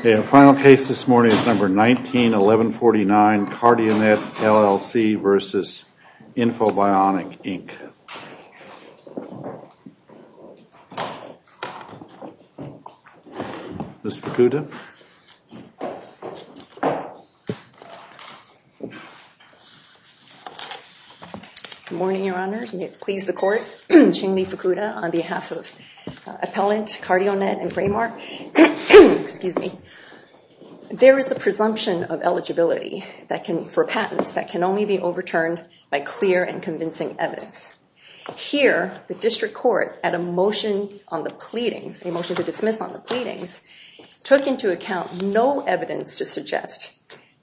The final case this morning is number 191149, Cardionet, LLC versus Infobionic, Inc. Ms. Fukuda. Good morning, Your Honor. May it please the Court. Ching-Li Fukuda on behalf of Appellant Cardionet and Framar. There is a presumption of eligibility for patents that can only be overturned by clear and convincing evidence. Here, the District Court, at a motion on the pleadings, a motion to dismiss on the pleadings, took into account no evidence to suggest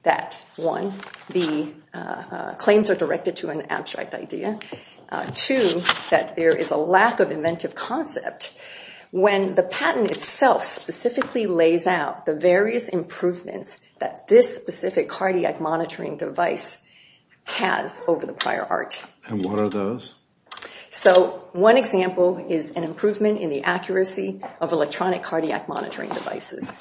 that, one, the claims are directed to an abstract idea, two, that there is a lack of inventive concept when the patent itself specifically lays out the various improvements that this specific cardiac monitoring device has over the prior art. And what are those? So, one example is an improvement in the accuracy of electronic cardiac monitoring devices.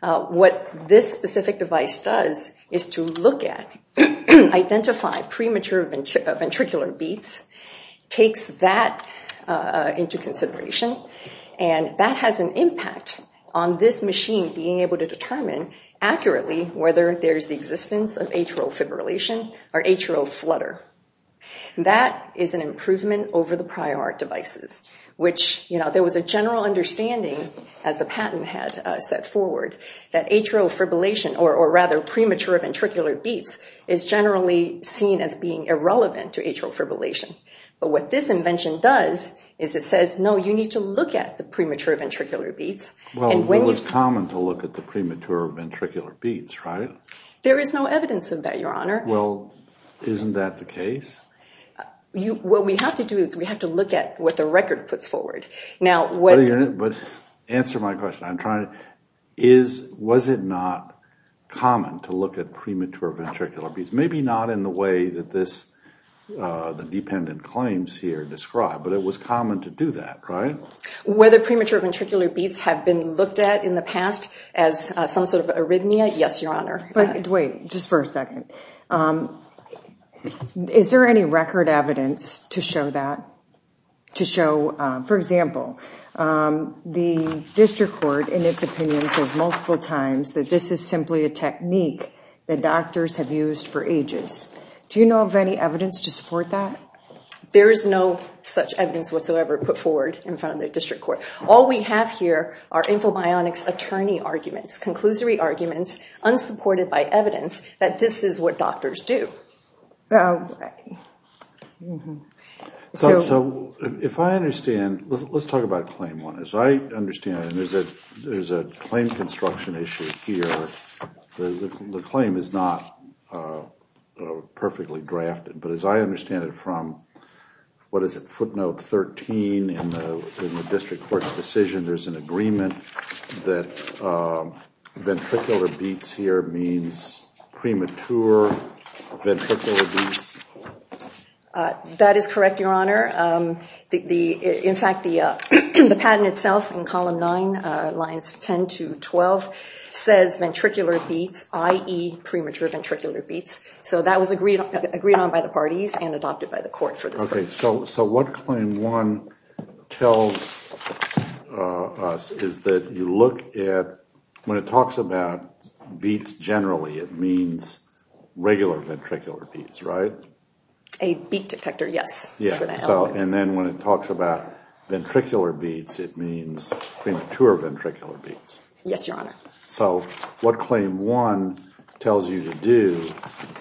What this specific device does is to look at, identify premature ventricular beats, takes that into consideration, and that has an impact on this machine being able to determine accurately whether there's the existence of atrial fibrillation or atrial flutter. That is an improvement over the prior art devices, which, you know, there was a general understanding, as the patent had set forward, that atrial fibrillation, or rather premature ventricular beats, is generally seen as being irrelevant to atrial fibrillation. But what this invention does is it says, no, you need to look at the premature ventricular beats. Well, it was common to look at the premature ventricular beats, right? There is no evidence of that, Your Honor. Well, isn't that the case? What we have to do is we have to look at what the record puts forward. But answer my question. Was it not common to look at premature ventricular beats? Maybe not in the way that the dependent claims here describe, but it was common to do that, right? Whether premature ventricular beats have been looked at in the past as some sort of arrhythmia, yes, Your Honor. But wait, just for a second. Is there any record evidence to show that? To show, for example, the district court, in its opinion, says multiple times that this is simply a technique that doctors have used for ages. Do you know of any evidence to support that? There is no such evidence whatsoever put forward in front of the district court. All we have here are infobionics attorney arguments, conclusory arguments, unsupported by evidence, that this is what doctors do. If I understand, let's talk about claim one. As I understand it, there's a claim construction issue here. The claim is not perfectly drafted. But as I understand it from footnote 13 in the district court's decision, there's an agreement that ventricular beats here means premature ventricular beats. That is correct, Your Honor. In fact, the patent itself in column nine, lines 10 to 12, says ventricular beats, i.e. premature ventricular beats. That was agreed on by the parties and adopted by the court for this case. What claim one tells us is that when it talks about beats generally, it means regular ventricular beats, right? A beat detector, yes. Then when it talks about ventricular beats, it means premature ventricular beats. Yes, Your Honor. So what claim one tells you to do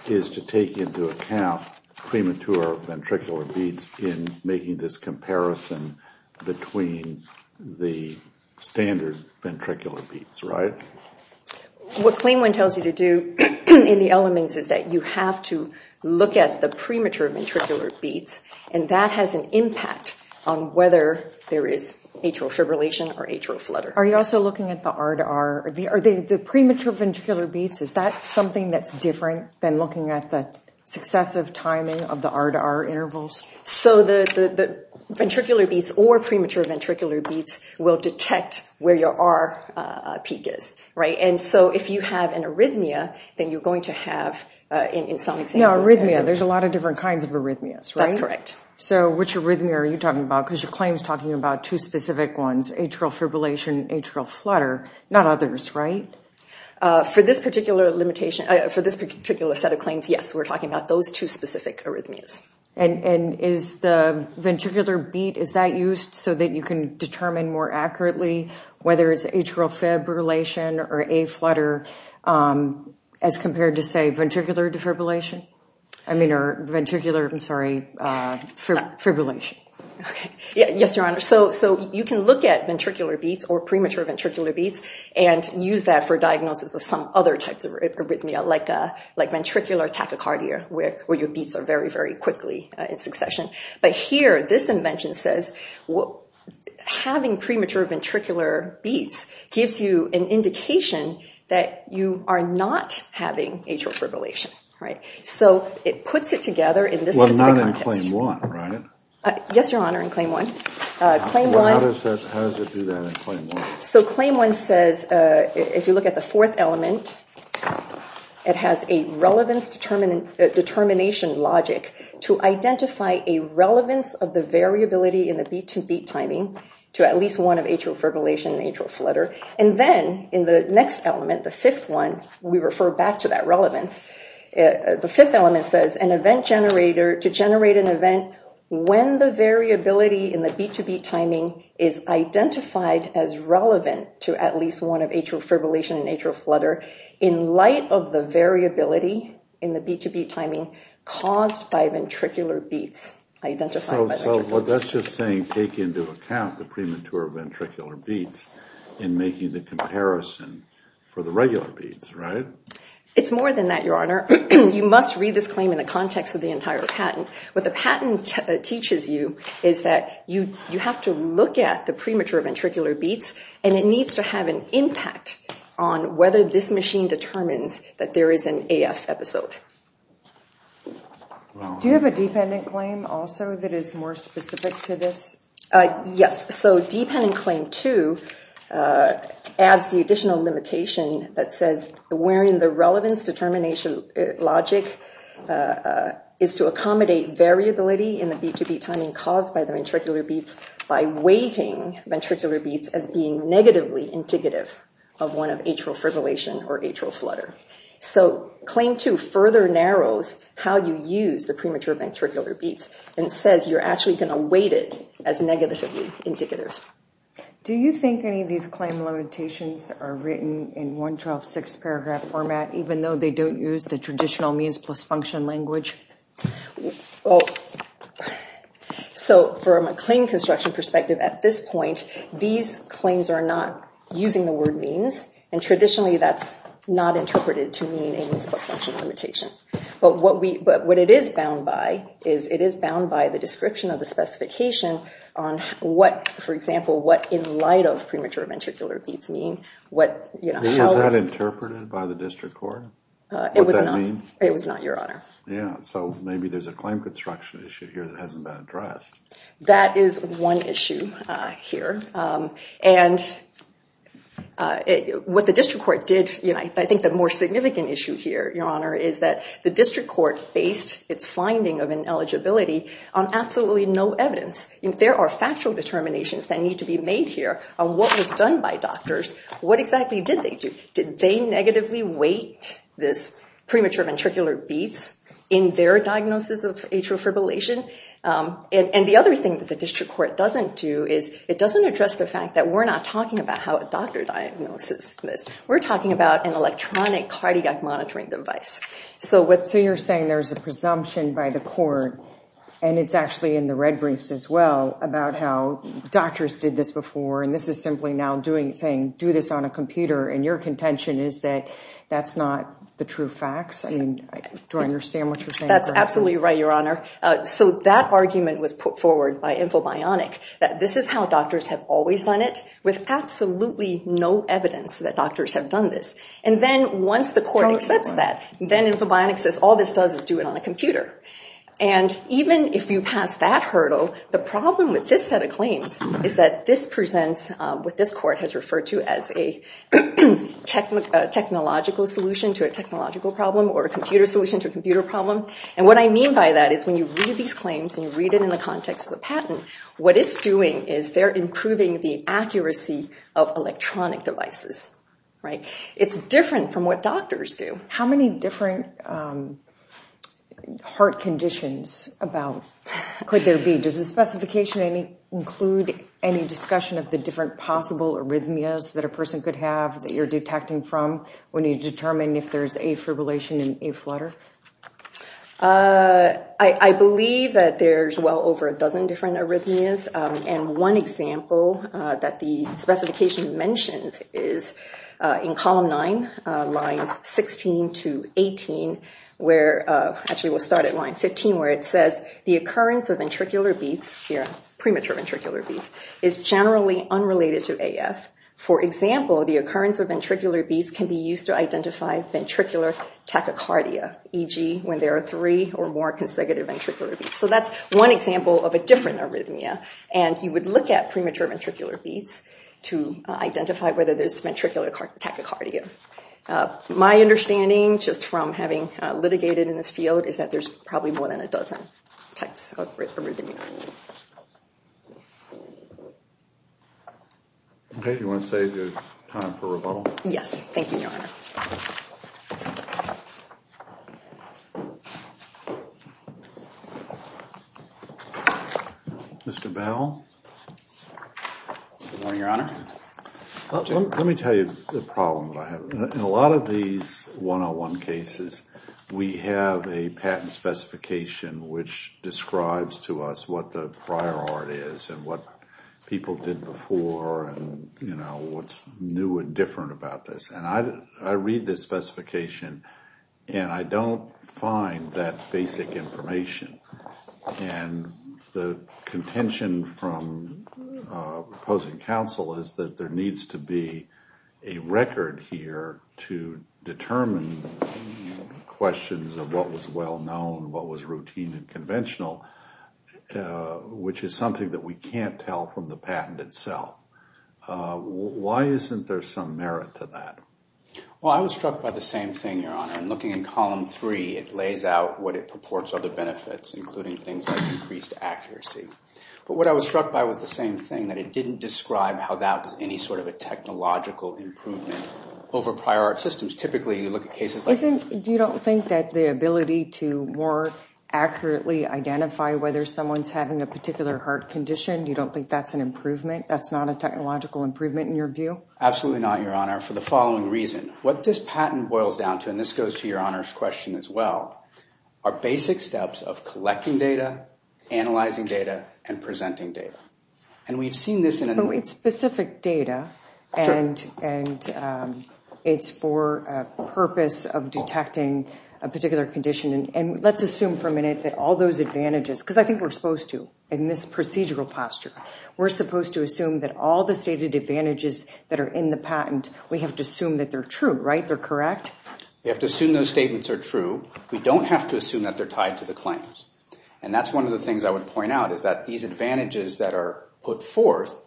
is to take into account premature ventricular beats in making this comparison between the standard ventricular beats, right? What claim one tells you to do in the elements is that you have to look at the premature ventricular beats, and that has an impact on whether there is atrial fibrillation or atrial flutter. Are you also looking at the R to R? Are the premature ventricular beats, is that something that's different than looking at the successive timing of the R to R intervals? So the ventricular beats or premature ventricular beats will detect where your R peak is, right? And so if you have an arrhythmia, then you're going to have in some examples. Now, arrhythmia, there's a lot of different kinds of arrhythmias, right? That's correct. So which arrhythmia are you talking about? Because your claim is talking about two specific ones, atrial fibrillation and atrial flutter, not others, right? For this particular set of claims, yes, we're talking about those two specific arrhythmias. And is the ventricular beat, is that used so that you can determine more accurately whether it's atrial fibrillation or a flutter as compared to, say, ventricular defibrillation? I mean, or ventricular, I'm sorry, fibrillation. Yes, Your Honor. So you can look at ventricular beats or premature ventricular beats and use that for diagnosis of some other types of arrhythmia, like ventricular tachycardia, where your beats are very, very quickly in succession. But here, this invention says having premature ventricular beats gives you an indication that you are not having atrial fibrillation, right? So it puts it together in this specific context. Well, not in Claim 1, right? Yes, Your Honor, in Claim 1. How does it do that in Claim 1? So Claim 1 says, if you look at the fourth element, it has a relevance determination logic to identify a relevance of the variability in the beat-to-beat timing to at least one of atrial fibrillation and atrial flutter. And then in the next element, the fifth one, we refer back to that relevance. The fifth element says an event generator to generate an event when the variability in the beat-to-beat timing is identified as relevant to at least one of atrial fibrillation and atrial flutter in light of the variability in the beat-to-beat timing caused by ventricular beats. So that's just saying take into account the premature ventricular beats in making the comparison for the regular beats, right? It's more than that, Your Honor. You must read this claim in the context of the entire patent. What the patent teaches you is that you have to look at the premature ventricular beats, and it needs to have an impact on whether this machine determines that there is an AF episode. Do you have a dependent claim also that is more specific to this? Yes. So dependent claim two adds the additional limitation that says wherein the relevance determination logic is to accommodate variability in the beat-to-beat timing caused by the ventricular beats by weighting ventricular beats as being negatively indicative of one of atrial fibrillation or atrial flutter. So claim two further narrows how you use the premature ventricular beats and says you're actually going to weight it as negatively indicative. Do you think any of these claim limitations are written in 112-6 paragraph format even though they don't use the traditional means plus function language? So from a claim construction perspective at this point, these claims are not using the word means, and traditionally that's not interpreted to mean a means plus function limitation. But what it is bound by is it is bound by the description of the specification on what, for example, what in light of premature ventricular beats mean. Is that interpreted by the district court? It was not, Your Honor. Yeah, so maybe there's a claim construction issue here that hasn't been addressed. That is one issue here. And what the district court did, I think the more significant issue here, Your Honor, is that the district court based its finding of ineligibility on absolutely no evidence. There are factual determinations that need to be made here on what was done by doctors. What exactly did they do? Did they negatively weight this premature ventricular beats in their diagnosis of atrial fibrillation? And the other thing that the district court doesn't do is it doesn't address the fact that we're not talking about how a doctor diagnoses this. We're talking about an electronic cardiac monitoring device. So you're saying there's a presumption by the court, and it's actually in the red briefs as well, about how doctors did this before and this is simply now saying do this on a computer and your contention is that that's not the true facts? I mean, do I understand what you're saying? That's absolutely right, Your Honor. So that argument was put forward by Infobionic that this is how doctors have always done it with absolutely no evidence that doctors have done this. And then once the court accepts that, then Infobionic says all this does is do it on a computer. And even if you pass that hurdle, the problem with this set of claims is that this presents what this court has referred to as a technological solution to a technological problem or a computer solution to a computer problem. And what I mean by that is when you read these claims and you read it in the context of the patent, what it's doing is they're improving the accuracy of electronic devices. It's different from what doctors do. How many different heart conditions could there be? Does the specification include any discussion of the different possible arrhythmias that a person could have that you're detecting from when you determine if there's a fibrillation and a flutter? I believe that there's well over a dozen different arrhythmias. And one example that the specification mentions is in column 9, lines 16 to 18, where actually we'll start at line 15, where it says the occurrence of ventricular beats, premature ventricular beats, is generally unrelated to AF. For example, the occurrence of ventricular beats can be used to identify ventricular tachycardia e.g. when there are three or more consecutive ventricular beats. So that's one example of a different arrhythmia. And you would look at premature ventricular beats to identify whether there's ventricular tachycardia. My understanding, just from having litigated in this field, is that there's probably more than a dozen types of arrhythmia. Okay. Do you want to save your time for rebuttal? Yes. Thank you, Your Honor. Mr. Bell? Good morning, Your Honor. Let me tell you the problem that I have. In a lot of these 101 cases, we have a patent specification which describes to us what the prior art is and what people did before and what's new and different about this. And I read this specification, and I don't find that basic information. And the contention from opposing counsel is that there needs to be a record here to determine questions of what was well-known, what was routine and conventional, which is something that we can't tell from the patent itself. Why isn't there some merit to that? Well, I was struck by the same thing, Your Honor. In looking in column three, it lays out what it purports are the benefits, including things like increased accuracy. But what I was struck by was the same thing, that it didn't describe how that was any sort of a technological improvement over prior art systems. Typically, you look at cases like this. You don't think that the ability to more accurately identify whether someone's having a particular heart condition, you don't think that's an improvement? That's not a technological improvement in your view? Absolutely not, Your Honor, for the following reason. What this patent boils down to, and this goes to Your Honor's question as well, are basic steps of collecting data, analyzing data, and presenting data. But it's specific data, and it's for a purpose of detecting a particular condition. And let's assume for a minute that all those advantages, because I think we're supposed to in this procedural posture, we're supposed to assume that all the stated advantages that are in the patent, we have to assume that they're true, right? They're correct? We have to assume those statements are true. We don't have to assume that they're tied to the claims. And that's one of the things I would point out, is that these advantages that are put forth,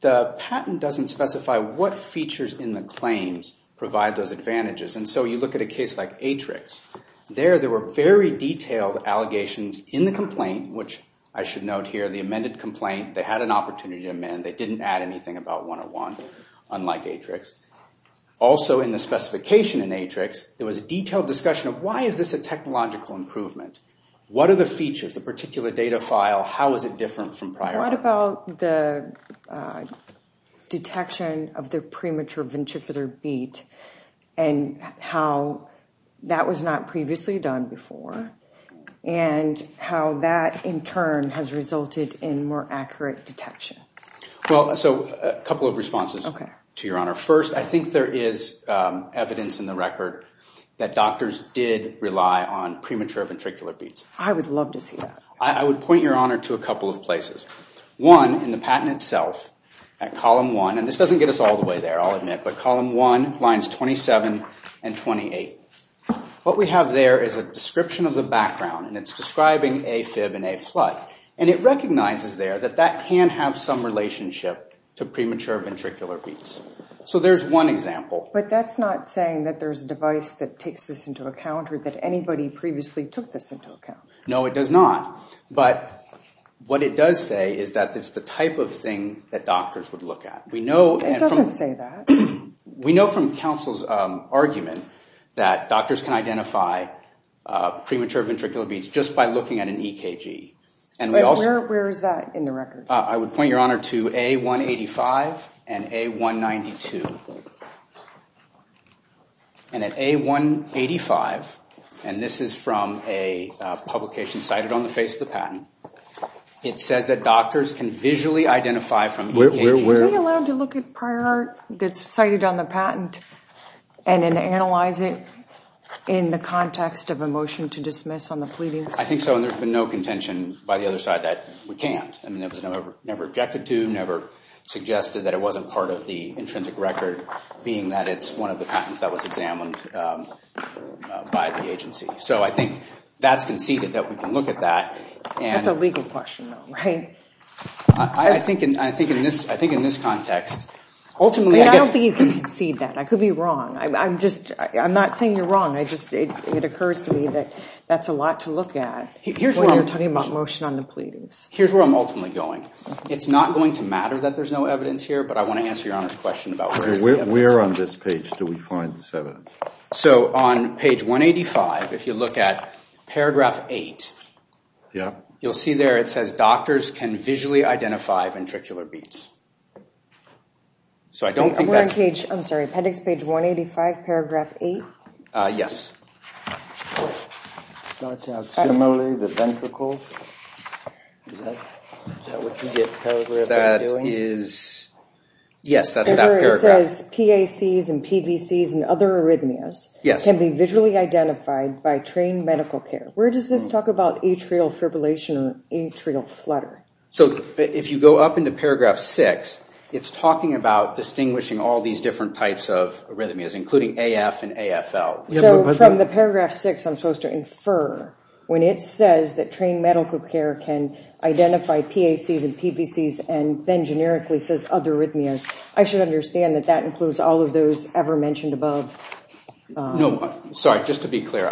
the patent doesn't specify what features in the claims provide those advantages. And so you look at a case like Atrix. There, there were very detailed allegations in the complaint, which I should note here, the amended complaint, they had an opportunity to amend. They didn't add anything about 101, unlike Atrix. Also, in the specification in Atrix, there was a detailed discussion of, why is this a technological improvement? What are the features, the particular data file, how is it different from prior? What about the detection of the premature ventricular beat, and how that was not previously done before, and how that in turn has resulted in more accurate detection? Well, so a couple of responses to your honor. First, I think there is evidence in the record that doctors did rely on premature ventricular beats. I would love to see that. I would point your honor to a couple of places. One, in the patent itself, at column one, and this doesn't get us all the way there, I'll admit, but column one, lines 27 and 28. What we have there is a description of the background, and it's describing AFib and AFlut. And it recognizes there that that can have some relationship to premature ventricular beats. So there's one example. But that's not saying that there's a device that takes this into account, or that anybody previously took this into account. No, it does not. But what it does say is that this is the type of thing that doctors would look at. It doesn't say that. We know from counsel's argument that doctors can identify premature ventricular beats just by looking at an EKG. Where is that in the record? I would point your honor to A185 and A192. And at A185, and this is from a publication cited on the face of the patent, it says that doctors can visually identify from EKGs. Were we allowed to look at prior art that's cited on the patent and then analyze it in the context of a motion to dismiss on the pleadings? I think so, and there's been no contention by the other side that we can't. I mean, that was never objected to, and we've never suggested that it wasn't part of the intrinsic record, being that it's one of the patents that was examined by the agency. So I think that's conceded that we can look at that. That's a legal question though, right? I think in this context, ultimately I guess— I don't think you can concede that. I could be wrong. I'm not saying you're wrong. It occurs to me that that's a lot to look at when you're talking about motion on the pleadings. Here's where I'm ultimately going. It's not going to matter that there's no evidence here, but I want to answer Your Honor's question about where is the evidence. Where on this page do we find this evidence? So on page 185, if you look at paragraph 8, you'll see there it says, doctors can visually identify ventricular beats. So I don't think that's— We're on page—I'm sorry, appendix page 185, paragraph 8? Yes. It starts out similarly, the ventricles. Is that what you get paragraph 8 doing? That is—yes, that's that paragraph. It says PACs and PVCs and other arrhythmias can be visually identified by trained medical care. Where does this talk about atrial fibrillation or atrial flutter? So if you go up into paragraph 6, it's talking about distinguishing all these different types of arrhythmias, including AF and AFL. So from the paragraph 6, I'm supposed to infer, when it says that trained medical care can identify PACs and PVCs and then generically says other arrhythmias, I should understand that that includes all of those ever mentioned above. No, sorry, just to be clear,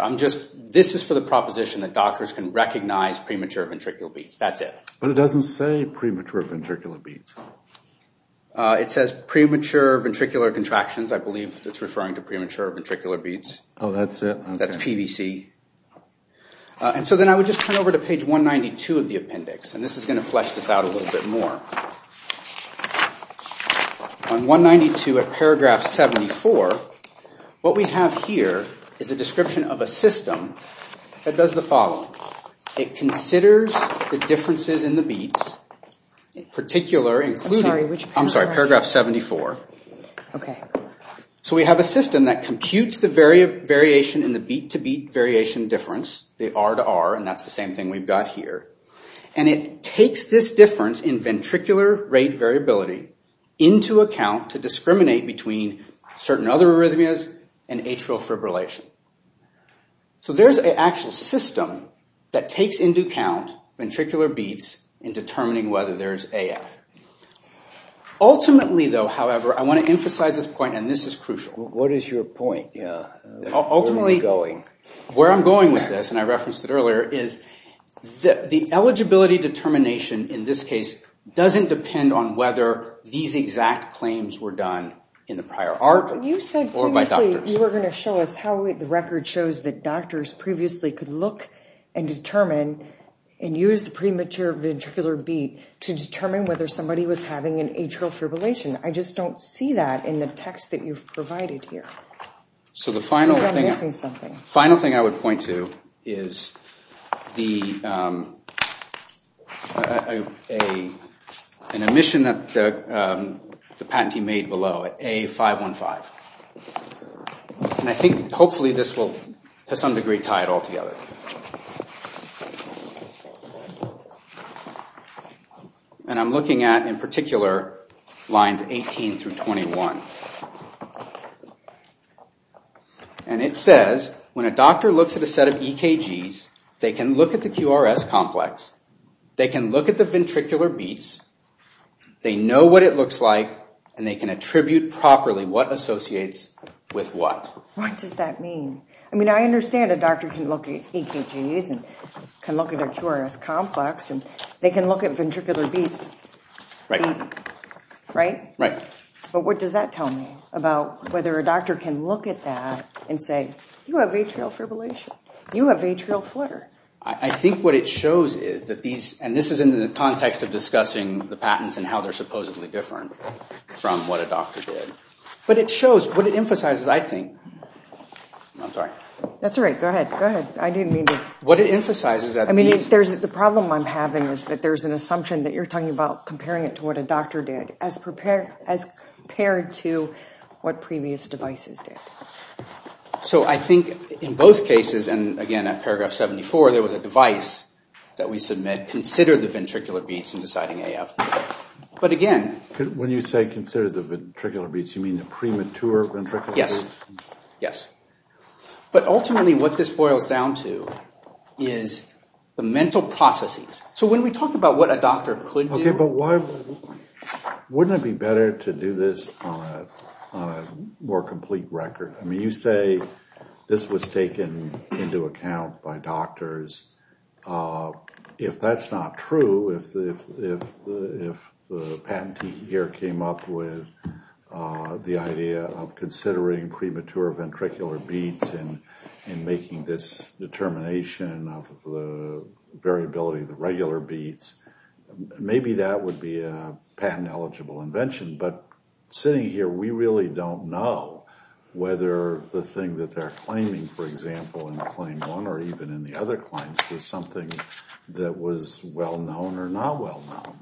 this is for the proposition that doctors can recognize premature ventricular beats. That's it. But it doesn't say premature ventricular beats. It says premature ventricular contractions. I believe it's referring to premature ventricular beats. Oh, that's it. That's PVC. And so then I would just turn over to page 192 of the appendix, and this is going to flesh this out a little bit more. On 192 of paragraph 74, what we have here is a description of a system that does the following. It considers the differences in the beats, particular, including— I'm sorry, which paragraph? I'm sorry, paragraph 74. Okay. So we have a system that computes the variation in the beat-to-beat variation difference, the R to R, and that's the same thing we've got here. And it takes this difference in ventricular rate variability into account to discriminate between certain other arrhythmias and atrial fibrillation. So there's an actual system that takes into account ventricular beats in determining whether there's AF. Ultimately, though, however, I want to emphasize this point, and this is crucial. What is your point? Ultimately, where I'm going with this, and I referenced it earlier, is the eligibility determination in this case doesn't depend on whether these exact claims were done in the prior article or by doctors. You said previously you were going to show us how the record shows that doctors previously could look and determine and use the premature ventricular beat to determine whether somebody was having an atrial fibrillation. I just don't see that in the text that you've provided here. So the final thing I would point to is an omission that the patentee made below at A515. And I think hopefully this will to some degree tie it all together. And I'm looking at, in particular, lines 18 through 21. And it says, when a doctor looks at a set of EKGs, they can look at the QRS complex, they can look at the ventricular beats, they know what it looks like, and they can attribute properly what associates with what. What does that mean? I mean, I understand a doctor can look at EKGs and can look at a QRS complex and they can look at ventricular beats. Right. Right? Right. But what does that tell me about whether a doctor can look at that and say, you have atrial fibrillation. You have atrial flutter. I think what it shows is that these – and this is in the context of discussing the patents and how they're supposedly different from what a doctor did. But it shows – what it emphasizes, I think – I'm sorry. That's all right. Go ahead. Go ahead. I didn't mean to – What it emphasizes – I mean, the problem I'm having is that there's an assumption that you're talking about comparing it to what a doctor did as compared to what previous devices did. So I think in both cases, and again at paragraph 74, there was a device that we submit considered the ventricular beats in deciding AF. But again – When you say considered the ventricular beats, you mean the premature ventricular beats? Yes. Yes. But ultimately what this boils down to is the mental processes. So when we talk about what a doctor could do – Okay, but why – wouldn't it be better to do this on a more complete record? I mean, you say this was taken into account by doctors. If that's not true, if the patentee here came up with the idea of considering premature ventricular beats and making this determination of the variability, the regular beats, maybe that would be a patent-eligible invention. But sitting here, we really don't know whether the thing that they're claiming, for example, in claim one or even in the other claims, was something that was well-known or not well-known.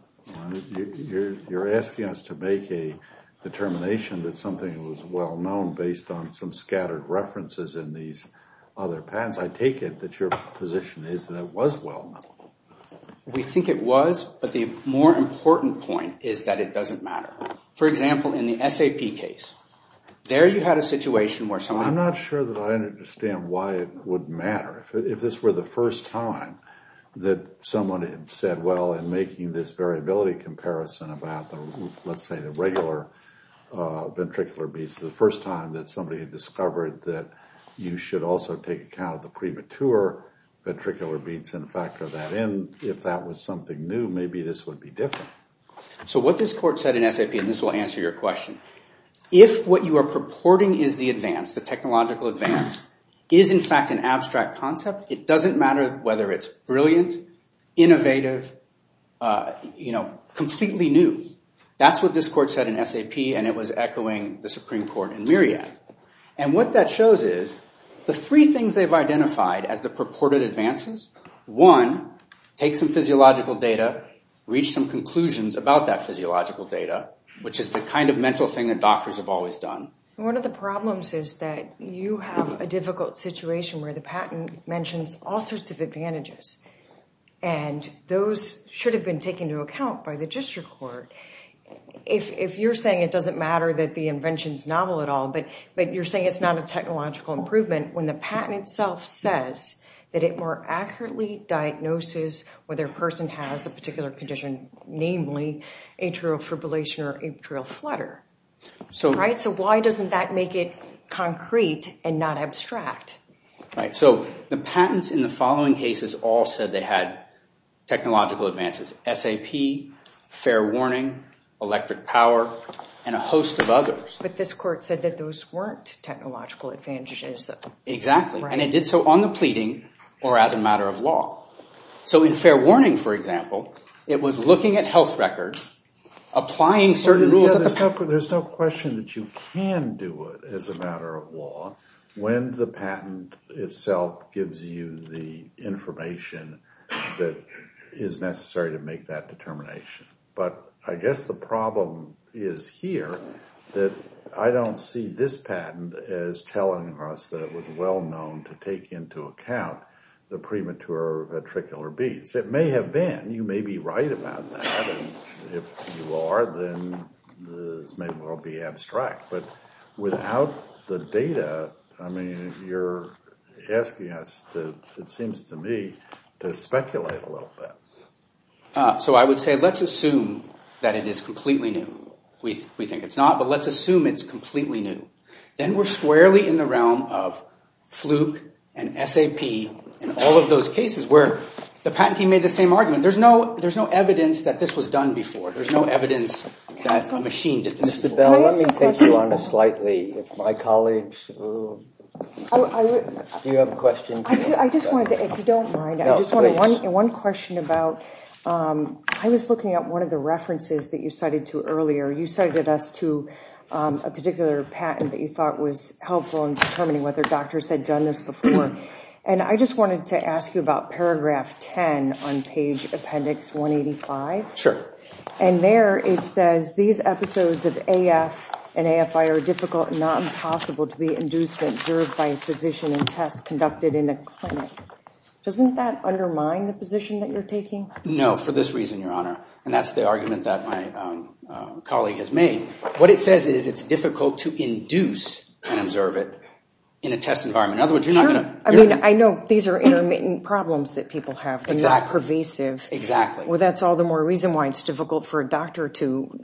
You're asking us to make a determination that something was well-known based on some scattered references in these other patents. I take it that your position is that it was well-known. We think it was, but the more important point is that it doesn't matter. For example, in the SAP case, there you had a situation where someone – I'm not sure that I understand why it wouldn't matter. If this were the first time that someone had said, well, in making this variability comparison about, let's say, the regular ventricular beats, the first time that somebody had discovered that you should also take account of the premature ventricular beats and factor that in, if that was something new, maybe this would be different. So what this court said in SAP, and this will answer your question, if what you are purporting is the advance, the technological advance, is in fact an abstract concept, it doesn't matter whether it's brilliant, innovative, you know, completely new. That's what this court said in SAP, and it was echoing the Supreme Court in Myriad. And what that shows is the three things they've identified as the purported advances. One, take some physiological data, reach some conclusions about that physiological data, which is the kind of mental thing that doctors have always done. One of the problems is that you have a difficult situation where the patent mentions all sorts of advantages, and those should have been taken into account by the district court. If you're saying it doesn't matter that the invention's novel at all, but you're saying it's not a technological improvement when the patent itself says that it more accurately diagnoses whether a person has a particular condition, namely atrial fibrillation or atrial flutter. So why doesn't that make it concrete and not abstract? So the patents in the following cases all said they had technological advances, SAP, fair warning, electric power, and a host of others. But this court said that those weren't technological advantages. Exactly, and it did so on the pleading or as a matter of law. So in fair warning, for example, it was looking at health records, There's no question that you can do it as a matter of law when the patent itself gives you the information that is necessary to make that determination. But I guess the problem is here that I don't see this patent as telling us that it was well known to take into account the premature ventricular beats. It may have been. You may be right about that. If you are, then this may well be abstract. But without the data, you're asking us, it seems to me, to speculate a little bit. So I would say let's assume that it is completely new. We think it's not, but let's assume it's completely new. Then we're squarely in the realm of fluke and SAP and all of those cases where the patent team made the same argument. There's no evidence that this was done before. There's no evidence that a machine did this before. Mr. Bell, let me take you on a slightly with my colleagues. Do you have a question? I just wanted to, if you don't mind, I just wanted one question about, I was looking at one of the references that you cited to earlier. You cited us to a particular patent that you thought was helpful in determining whether doctors had done this before. I just wanted to ask you about paragraph 10 on page appendix 185. Sure. There it says, these episodes of AF and AFI are difficult and not impossible to be induced and observed by a physician in tests conducted in a clinic. Doesn't that undermine the position that you're taking? No, for this reason, Your Honor. That's the argument that my colleague has made. What it says is it's difficult to induce and observe it in a test environment. In other words, you're not going to Sure. I mean, I know these are intermittent problems that people have. Exactly. They're not pervasive. Exactly. Well, that's all the more reason why it's difficult for a doctor to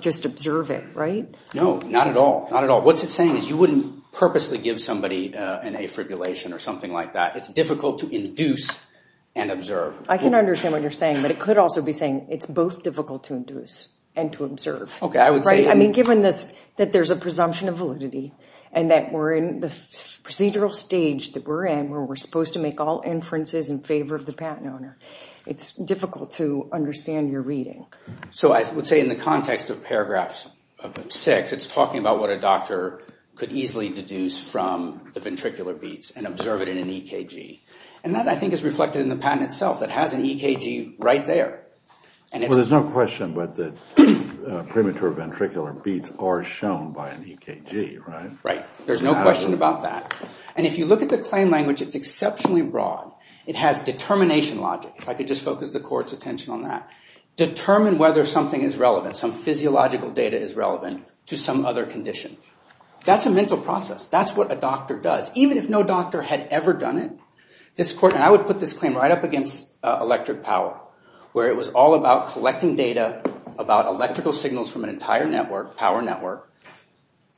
just observe it, right? No, not at all. Not at all. What it's saying is you wouldn't purposely give somebody an affibrillation or something like that. It's difficult to induce and observe. I can understand what you're saying, but it could also be saying it's both difficult to induce and to observe. Okay, I would say I mean, given this, that there's a presumption of validity and that we're in the procedural stage that we're in where we're supposed to make all inferences in favor of the patent owner, it's difficult to understand your reading. So I would say in the context of paragraphs 6, it's talking about what a doctor could easily deduce from the ventricular beats and observe it in an EKG. And that, I think, is reflected in the patent itself. It has an EKG right there. Well, there's no question but that premature ventricular beats are shown by an EKG, right? Right. There's no question about that. And if you look at the claim language, it's exceptionally broad. It has determination logic. If I could just focus the court's attention on that. Determine whether something is relevant, some physiological data is relevant to some other condition. That's a mental process. That's what a doctor does. Even if no doctor had ever done it, this court and I would put this claim right up against electric power where it was all about collecting data about electrical signals from an entire network, power network,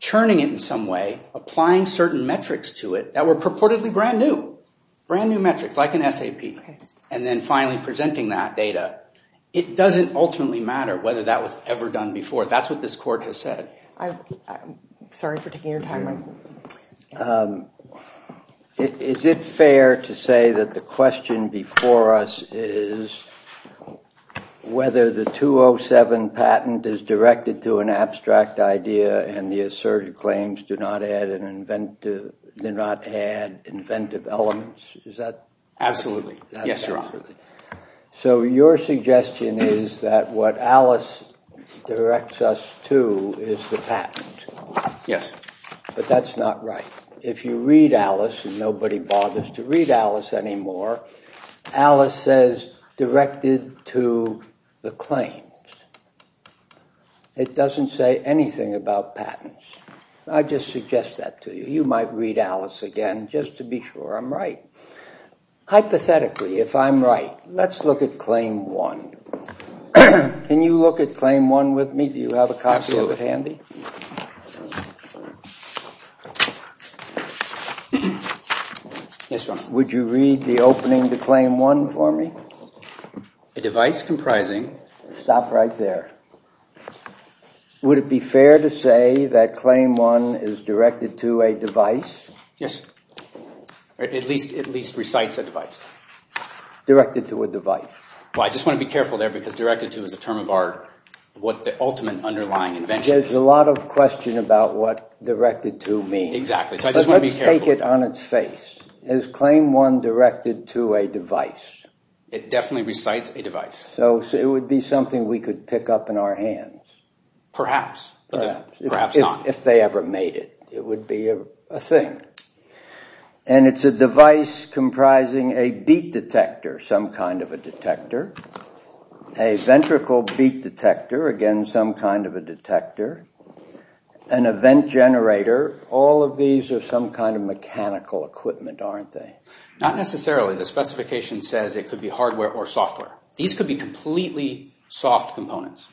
churning it in some way, applying certain metrics to it that were purportedly brand new. Brand new metrics like an SAP. And then finally presenting that data. It doesn't ultimately matter whether that was ever done before. That's what this court has said. Sorry for taking your time. Is it fair to say that the question before us is whether the 207 patent is directed to an abstract idea and the asserted claims do not add inventive elements? Absolutely. Yes, Your Honor. So your suggestion is that what Alice directs us to is the patent. Yes. But that's not right. If you read Alice, and nobody bothers to read Alice anymore, Alice says directed to the claims. It doesn't say anything about patents. I just suggest that to you. You might read Alice again just to be sure I'm right. Hypothetically, if I'm right, let's look at Claim 1. Can you look at Claim 1 with me? Do you have a copy of it handy? Absolutely. Yes, Your Honor. Would you read the opening to Claim 1 for me? A device comprising... Stop right there. Would it be fair to say that Claim 1 is directed to a device? Yes. At least recites a device. Directed to a device. I just want to be careful there because directed to is a term of art, what the ultimate underlying invention is. There's a lot of question about what directed to means. Exactly. Let's take it on its face. Is Claim 1 directed to a device? It definitely recites a device. So it would be something we could pick up in our hands. Perhaps. Perhaps not. If they ever made it, it would be a thing. And it's a device comprising a beat detector, some kind of a detector. A ventricle beat detector, again some kind of a detector. An event generator. All of these are some kind of mechanical equipment, aren't they? Not necessarily. The specification says it could be hardware or software. These could be completely soft components.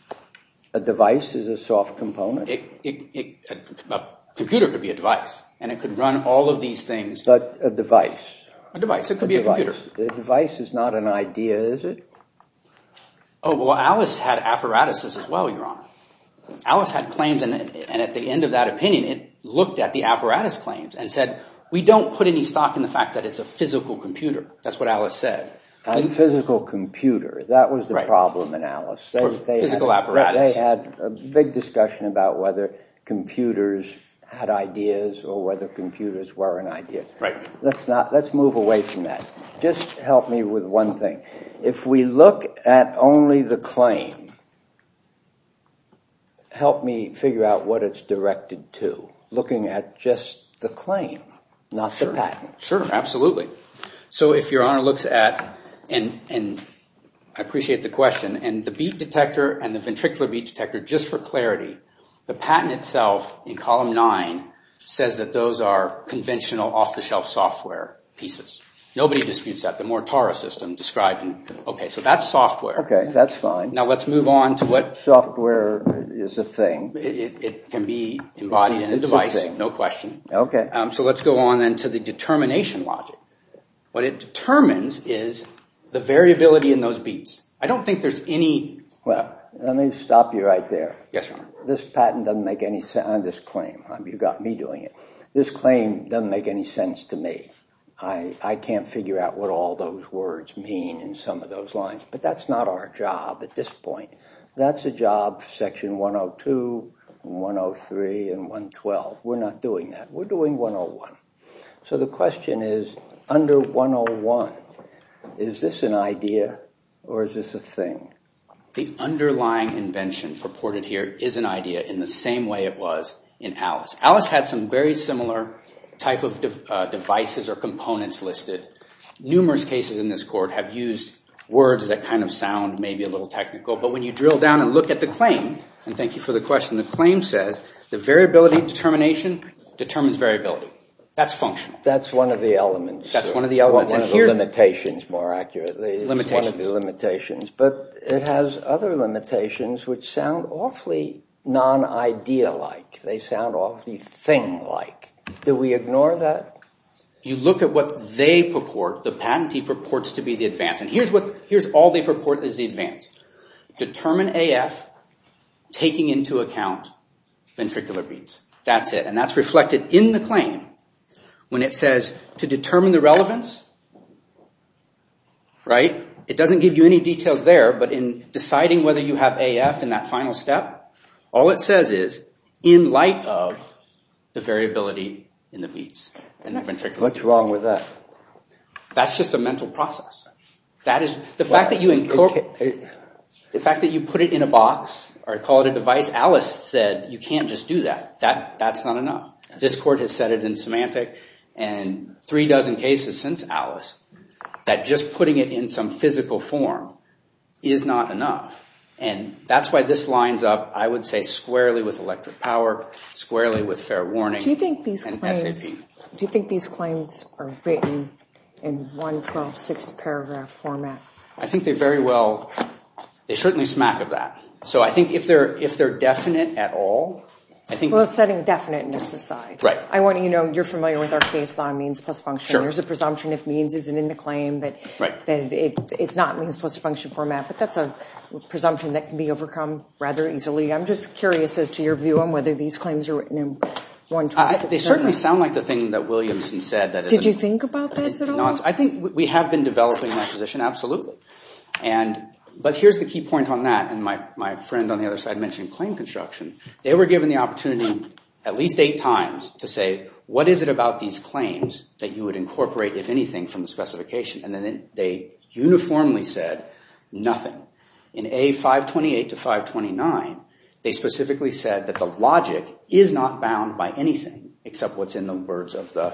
A device is a soft component? A computer could be a device. And it could run all of these things. But a device. A device. It could be a computer. A device is not an idea, is it? Oh, well, Alice had apparatuses as well, Your Honor. Alice had claims, and at the end of that opinion, it looked at the apparatus claims and said, we don't put any stock in the fact that it's a physical computer. That's what Alice said. A physical computer. That was the problem in Alice. Physical apparatus. They had a big discussion about whether computers had ideas or whether computers were an idea. Let's move away from that. Just help me with one thing. If we look at only the claim, help me figure out what it's directed to. Looking at just the claim, not the patent. Sure. Absolutely. So if Your Honor looks at, and I appreciate the question, and the beat detector and the ventricular beat detector, just for clarity, the patent itself in column nine says that those are conventional, off-the-shelf software pieces. Nobody disputes that. The Mortara system described them. Okay, so that's software. Okay, that's fine. Now let's move on to what... Software is a thing. It can be embodied in a device, no question. Okay. So let's go on then to the determination logic. What it determines is the variability in those beats. I don't think there's any... Well, let me stop you right there. Yes, Your Honor. This patent doesn't make any sense, and this claim, you've got me doing it. This claim doesn't make any sense to me. I can't figure out what all those words mean in some of those lines. But that's not our job. At this point, that's a job, section 102, 103, and 112. We're not doing that. We're doing 101. So the question is, under 101, is this an idea or is this a thing? The underlying invention purported here is an idea in the same way it was in Alice. Alice had some very similar type of devices or components listed. Numerous cases in this court have used words that kind of sound maybe a little technical. But when you drill down and look at the claim, and thank you for the question, the claim says the variability determination determines variability. That's functional. That's one of the elements. That's one of the elements. One of the limitations, more accurately. Limitations. One of the limitations. But it has other limitations which sound awfully non-idea-like. They sound awfully thing-like. Do we ignore that? You look at what they purport, the patentee purports to be the advance. And here's all they purport is the advance. Determine AF taking into account ventricular beats. That's it. And that's reflected in the claim when it says to determine the relevance. Right? It doesn't give you any details there, but in deciding whether you have AF in that final step, all it says is in light of the variability in the beats and the ventricular beats. What's wrong with that? That's just a mental process. The fact that you put it in a box or call it a device, Alice said you can't just do that. That's not enough. This court has said it in semantic and three dozen cases since Alice that just putting it in some physical form is not enough. And that's why this lines up, I would say, squarely with electric power, squarely with fair warning and SAP. Do you think these claims are written in one, 12, six paragraph format? I think they very well, they certainly smack of that. So I think if they're definite at all, Well, setting definiteness aside, I want you to know you're familiar with our case on means plus function. There's a presumption if means isn't in the claim that it's not means plus function format, but that's a presumption that can be overcome I'm just curious as to your view on whether these claims are written in one, 12, six. They certainly sound like the thing that Williamson said. Did you think about this at all? I think we have been developing that position. Absolutely. But here's the key point on that. And my friend on the other side mentioned claim construction. They were given the opportunity at least eight times to say, what is it about these claims that you would incorporate, if anything, from the specification? And then they uniformly said nothing. In A528 to 529, they specifically said that the logic is not bound by anything except what's in the words of the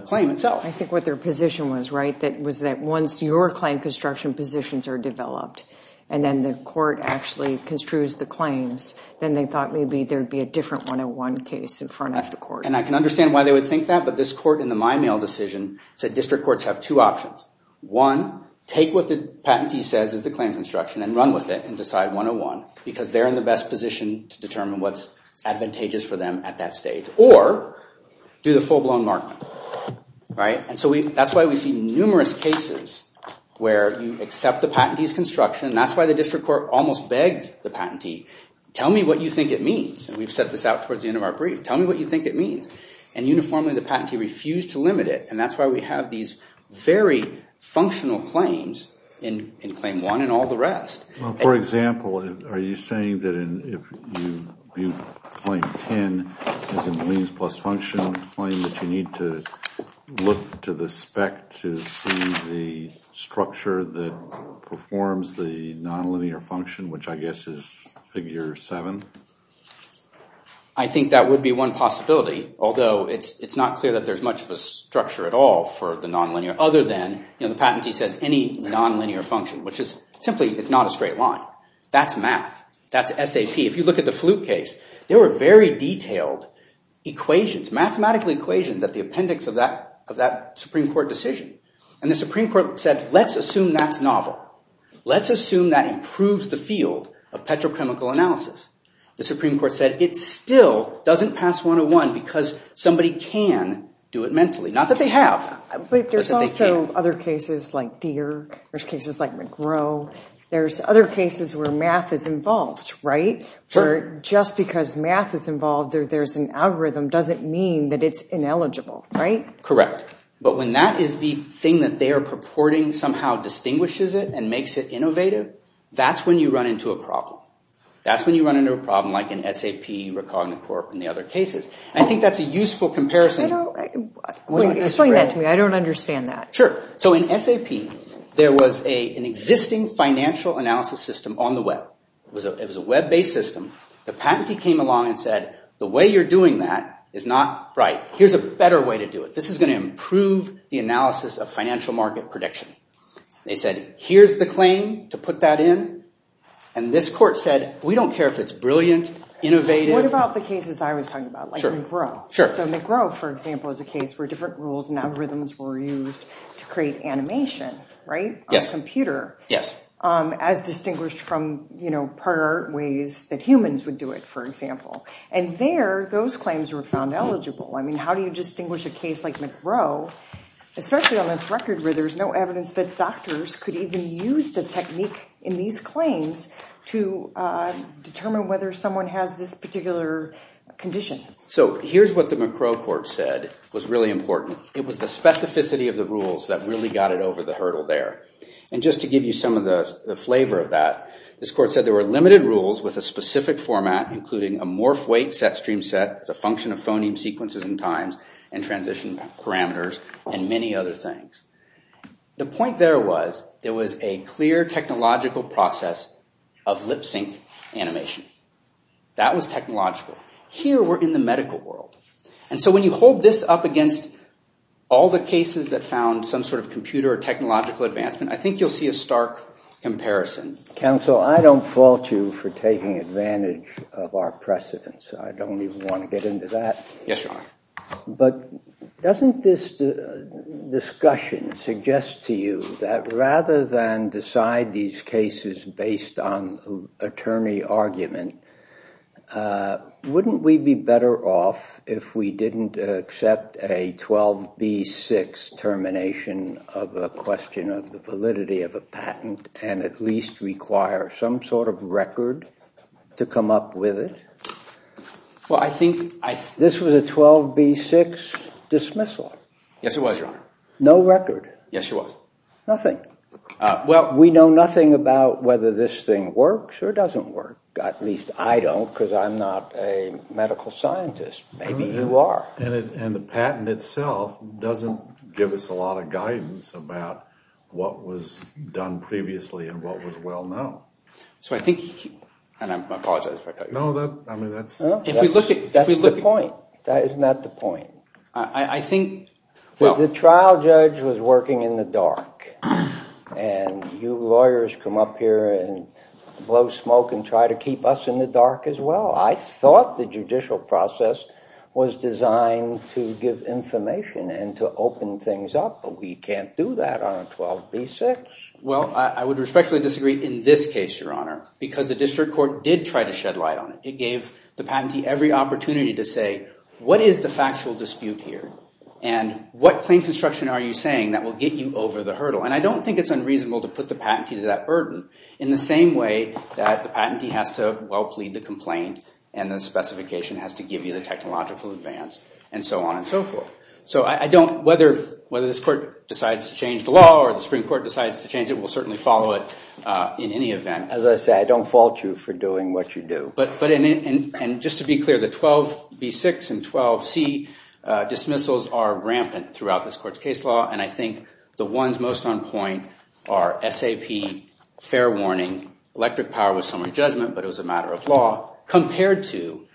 claim itself. I think what their position was, right, was that once your claim construction positions are developed, and then the court actually construes the claims, then they thought maybe there'd be a different 101 case in front of the court. And I can understand why they would think that, but this court in the my mail decision said district courts have two options. One, take what the patentee says is the claim construction and run with it and decide 101 because they're in the best position to determine what's advantageous for them at that stage. Or, do the full-blown markman. Right, and so that's why we see numerous cases where you accept the patentee's construction. That's why the district court almost begged the patentee, tell me what you think it means. And we've set this out towards the end of our brief. Tell me what you think it means. And uniformly, the patentee refused to limit it. And that's why we have these very functional claims in claim one and all the rest. For example, are you saying that if you claim 10 as a means plus function claim that you need to look to the spec to see the structure that performs the nonlinear function, which I guess is figure seven? I think that would be one possibility, although it's not clear that there's much of a structure at all for the nonlinear, other than the patentee says any nonlinear function, which is simply it's not a straight line. That's math. That's SAP. If you look at the flute case, there were very detailed equations, mathematical equations at the appendix of that Supreme Court decision. And the Supreme Court said, let's assume that's novel. Let's assume that improves the field of petrochemical analysis. The Supreme Court said, it still doesn't pass 101 because somebody can do it mentally. Not that they have, but that they can. But there's also other cases like Dierk. There's cases like McGrow. There's other cases where math is involved, right? Where just because math is involved or there's an algorithm doesn't mean that it's ineligible, right? Correct. But when that is the thing that they are purporting somehow distinguishes it and makes it innovative, that's when you run into a problem. That's when you run into a problem like in SAP or Cognacorp and the other cases. I think that's a useful comparison. Explain that to me. I don't understand that. Sure. In SAP, there was an existing financial analysis system on the web. It was a web-based system. The patentee came along and said, the way you're doing that is not right. Here's a better way to do it. This is going to improve the analysis of financial market prediction. They said, here's the claim to put that in. This court said, we don't care if it's brilliant, innovative. What about the cases I was talking about, like McGrow? Sure. McGrow, for example, is a case where different rules and algorithms were used to create animation, right? Yes. On a computer. Yes. As distinguished from prior ways that humans would do it, for example. There, those claims were found eligible. How do you distinguish a case like McGrow, especially on this record where there's no evidence that doctors could even use the technique in these claims to determine whether someone has this particular condition? Here's what the McGrow court said was really important. It was the specificity of the rules that really got it over the hurdle there. And just to give you some of the flavor of that, this court said there were limited rules with a specific format, including a MorphWeightSetStreamSet as a function of phoneme sequences and times and transition parameters and many other things. The point there was there was a clear technological process of lip-sync animation. That was technological. Here, we're in the medical world. And so when you hold this up against all the cases that found some sort of computer or technological advancement, I think you'll see a stark comparison. Counsel, I don't fault you for taking advantage of our precedents. I don't even want to get into that. Yes, Your Honor. But doesn't this discussion suggest to you that rather than decide these cases based on attorney argument, wouldn't we be better off if we didn't accept a 12B6 termination of a question of the validity of a patent and at least require some sort of record to come up with it? Well, I think... This was a 12B6 dismissal. Yes, it was, Your Honor. No record. Yes, it was. Nothing. Well... We know nothing about whether this thing works or doesn't work. At least I don't because I'm not a medical scientist. Maybe you are. And the patent itself doesn't give us a lot of guidance about what was done previously and what was well known. So I think... And I apologize if I cut you off. No, that's... If we look at... That's the point. That is not the point. I think... The trial judge was working in the dark and you lawyers come up here and blow smoke and try to keep us in the dark as well. I thought the judicial process was designed to give information and to open things up, but we can't do that on a 12B6. Well, I would respectfully disagree in this case, Your Honor, because the district court did try to shed light on it. It gave the patentee every opportunity to say what is the factual dispute here and what claim construction are you saying that will get you over the hurdle? And I don't think it's unreasonable to put the patentee to that burden in the same way that the patentee has to well plead the complaint and the specification has to give you the technological advance and so on and so forth. So I don't... Whether this court decides to change the law or the Supreme Court decides to change it, we'll certainly follow it in any event. As I say, I don't fault you for doing what you do. But... And just to be clear, the 12B6 and 12C dismissals are rampant throughout this court's case law and I think the ones most on point are SAP, fair warning, electric power was someone's judgment but it was a matter of law, compared to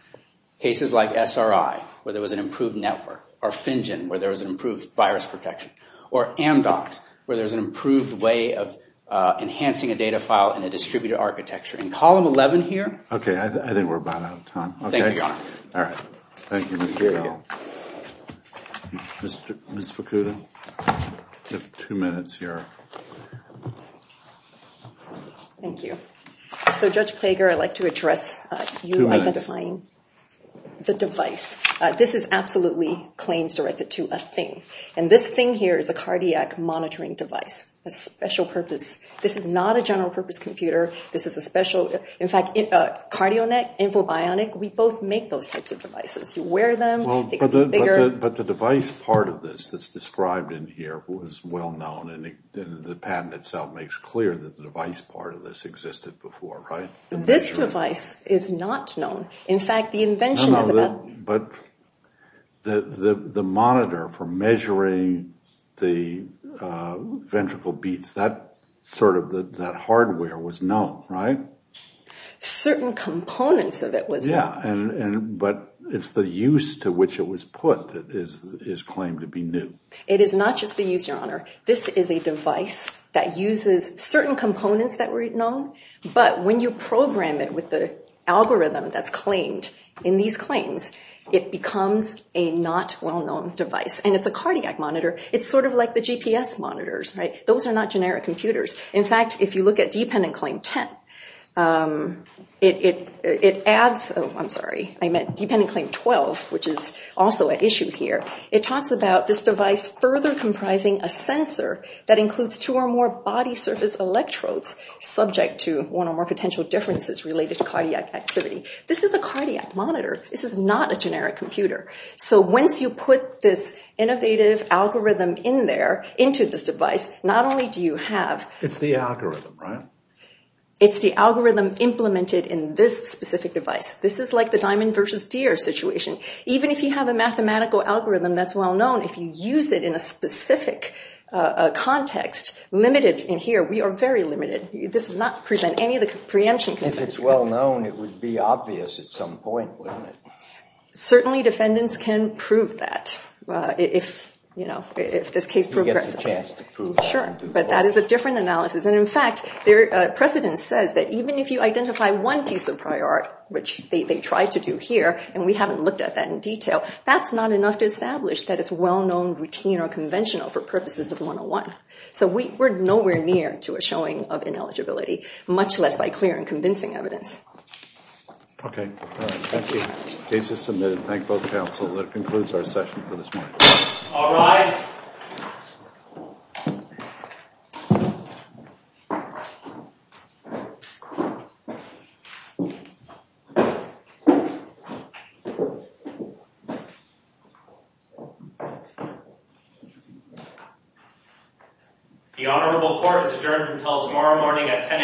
cases like SRI where there was an improved network or FinGen where there was an improved virus protection or Amdocs where there's an improved way of enhancing a data file in a distributed architecture. In column 11 here... Okay, I think we're about out of time. Thank you, Your Honor. All right. Thank you, Mr. Gale. Ms. Fukuda? You have two minutes here. Thank you. So, Judge Plager, I'd like to address... Two minutes. ...you identifying the device. This is absolutely claims directed to a thing. And this thing here is a cardiac monitoring device. A special purpose... This is not a general purpose computer. This is a special... In fact, CardioNet, Infobionic, we both make those types of devices. You wear them, they get bigger... But the device part of this that's described in here was well known and the patent itself makes clear that the device part of this existed before, right? This device is not known. In fact, the invention is about... But the monitor for measuring the ventricle beats, that sort of hardware was known, right? Certain components of it was known. Yeah, but it's the use to which it was put that is claimed to be new. It is not just the use, Your Honor. This is a device that uses certain components that were known, but when you program it with the algorithm that's claimed in these claims, it becomes a not well known device. And it's a cardiac monitor. It's sort of like the GPS monitors, right? Those are not generic computers. In fact, if you look at dependent claim 10, it adds... Oh, I'm sorry. I meant dependent claim 12, which is also at issue here. It talks about this device further comprising a sensor that includes two or more body surface electrodes subject to one or more potential differences related to cardiac activity. This is a cardiac monitor. This is not a generic computer. So once you put this innovative algorithm into this device, not only do you have... It's the algorithm, right? It's the algorithm implemented in this specific device. This is like the diamond versus deer situation. Even if you have a mathematical algorithm that's well known, if you use it in a specific context, limited in here, we are very limited. This does not present any of the preemption concerns. If it's well known, it would be obvious at some point, wouldn't it? Certainly, defendants can prove that if this case progresses. Who gets a chance to prove that? Sure. But that is a different analysis. And in fact, precedent says that even if you identify one piece of prior art, which they tried to do here, and we haven't looked at that in detail, that's not enough to establish that it's well known, routine, or conventional for purposes of 101. So we're nowhere near to a showing of ineligibility, much less by clear and convincing evidence. Okay. Thank you. Case is submitted. Thank both counsel. That concludes our session for this morning. All rise. The Honorable Court is adjourned until tomorrow morning at 10 a.m.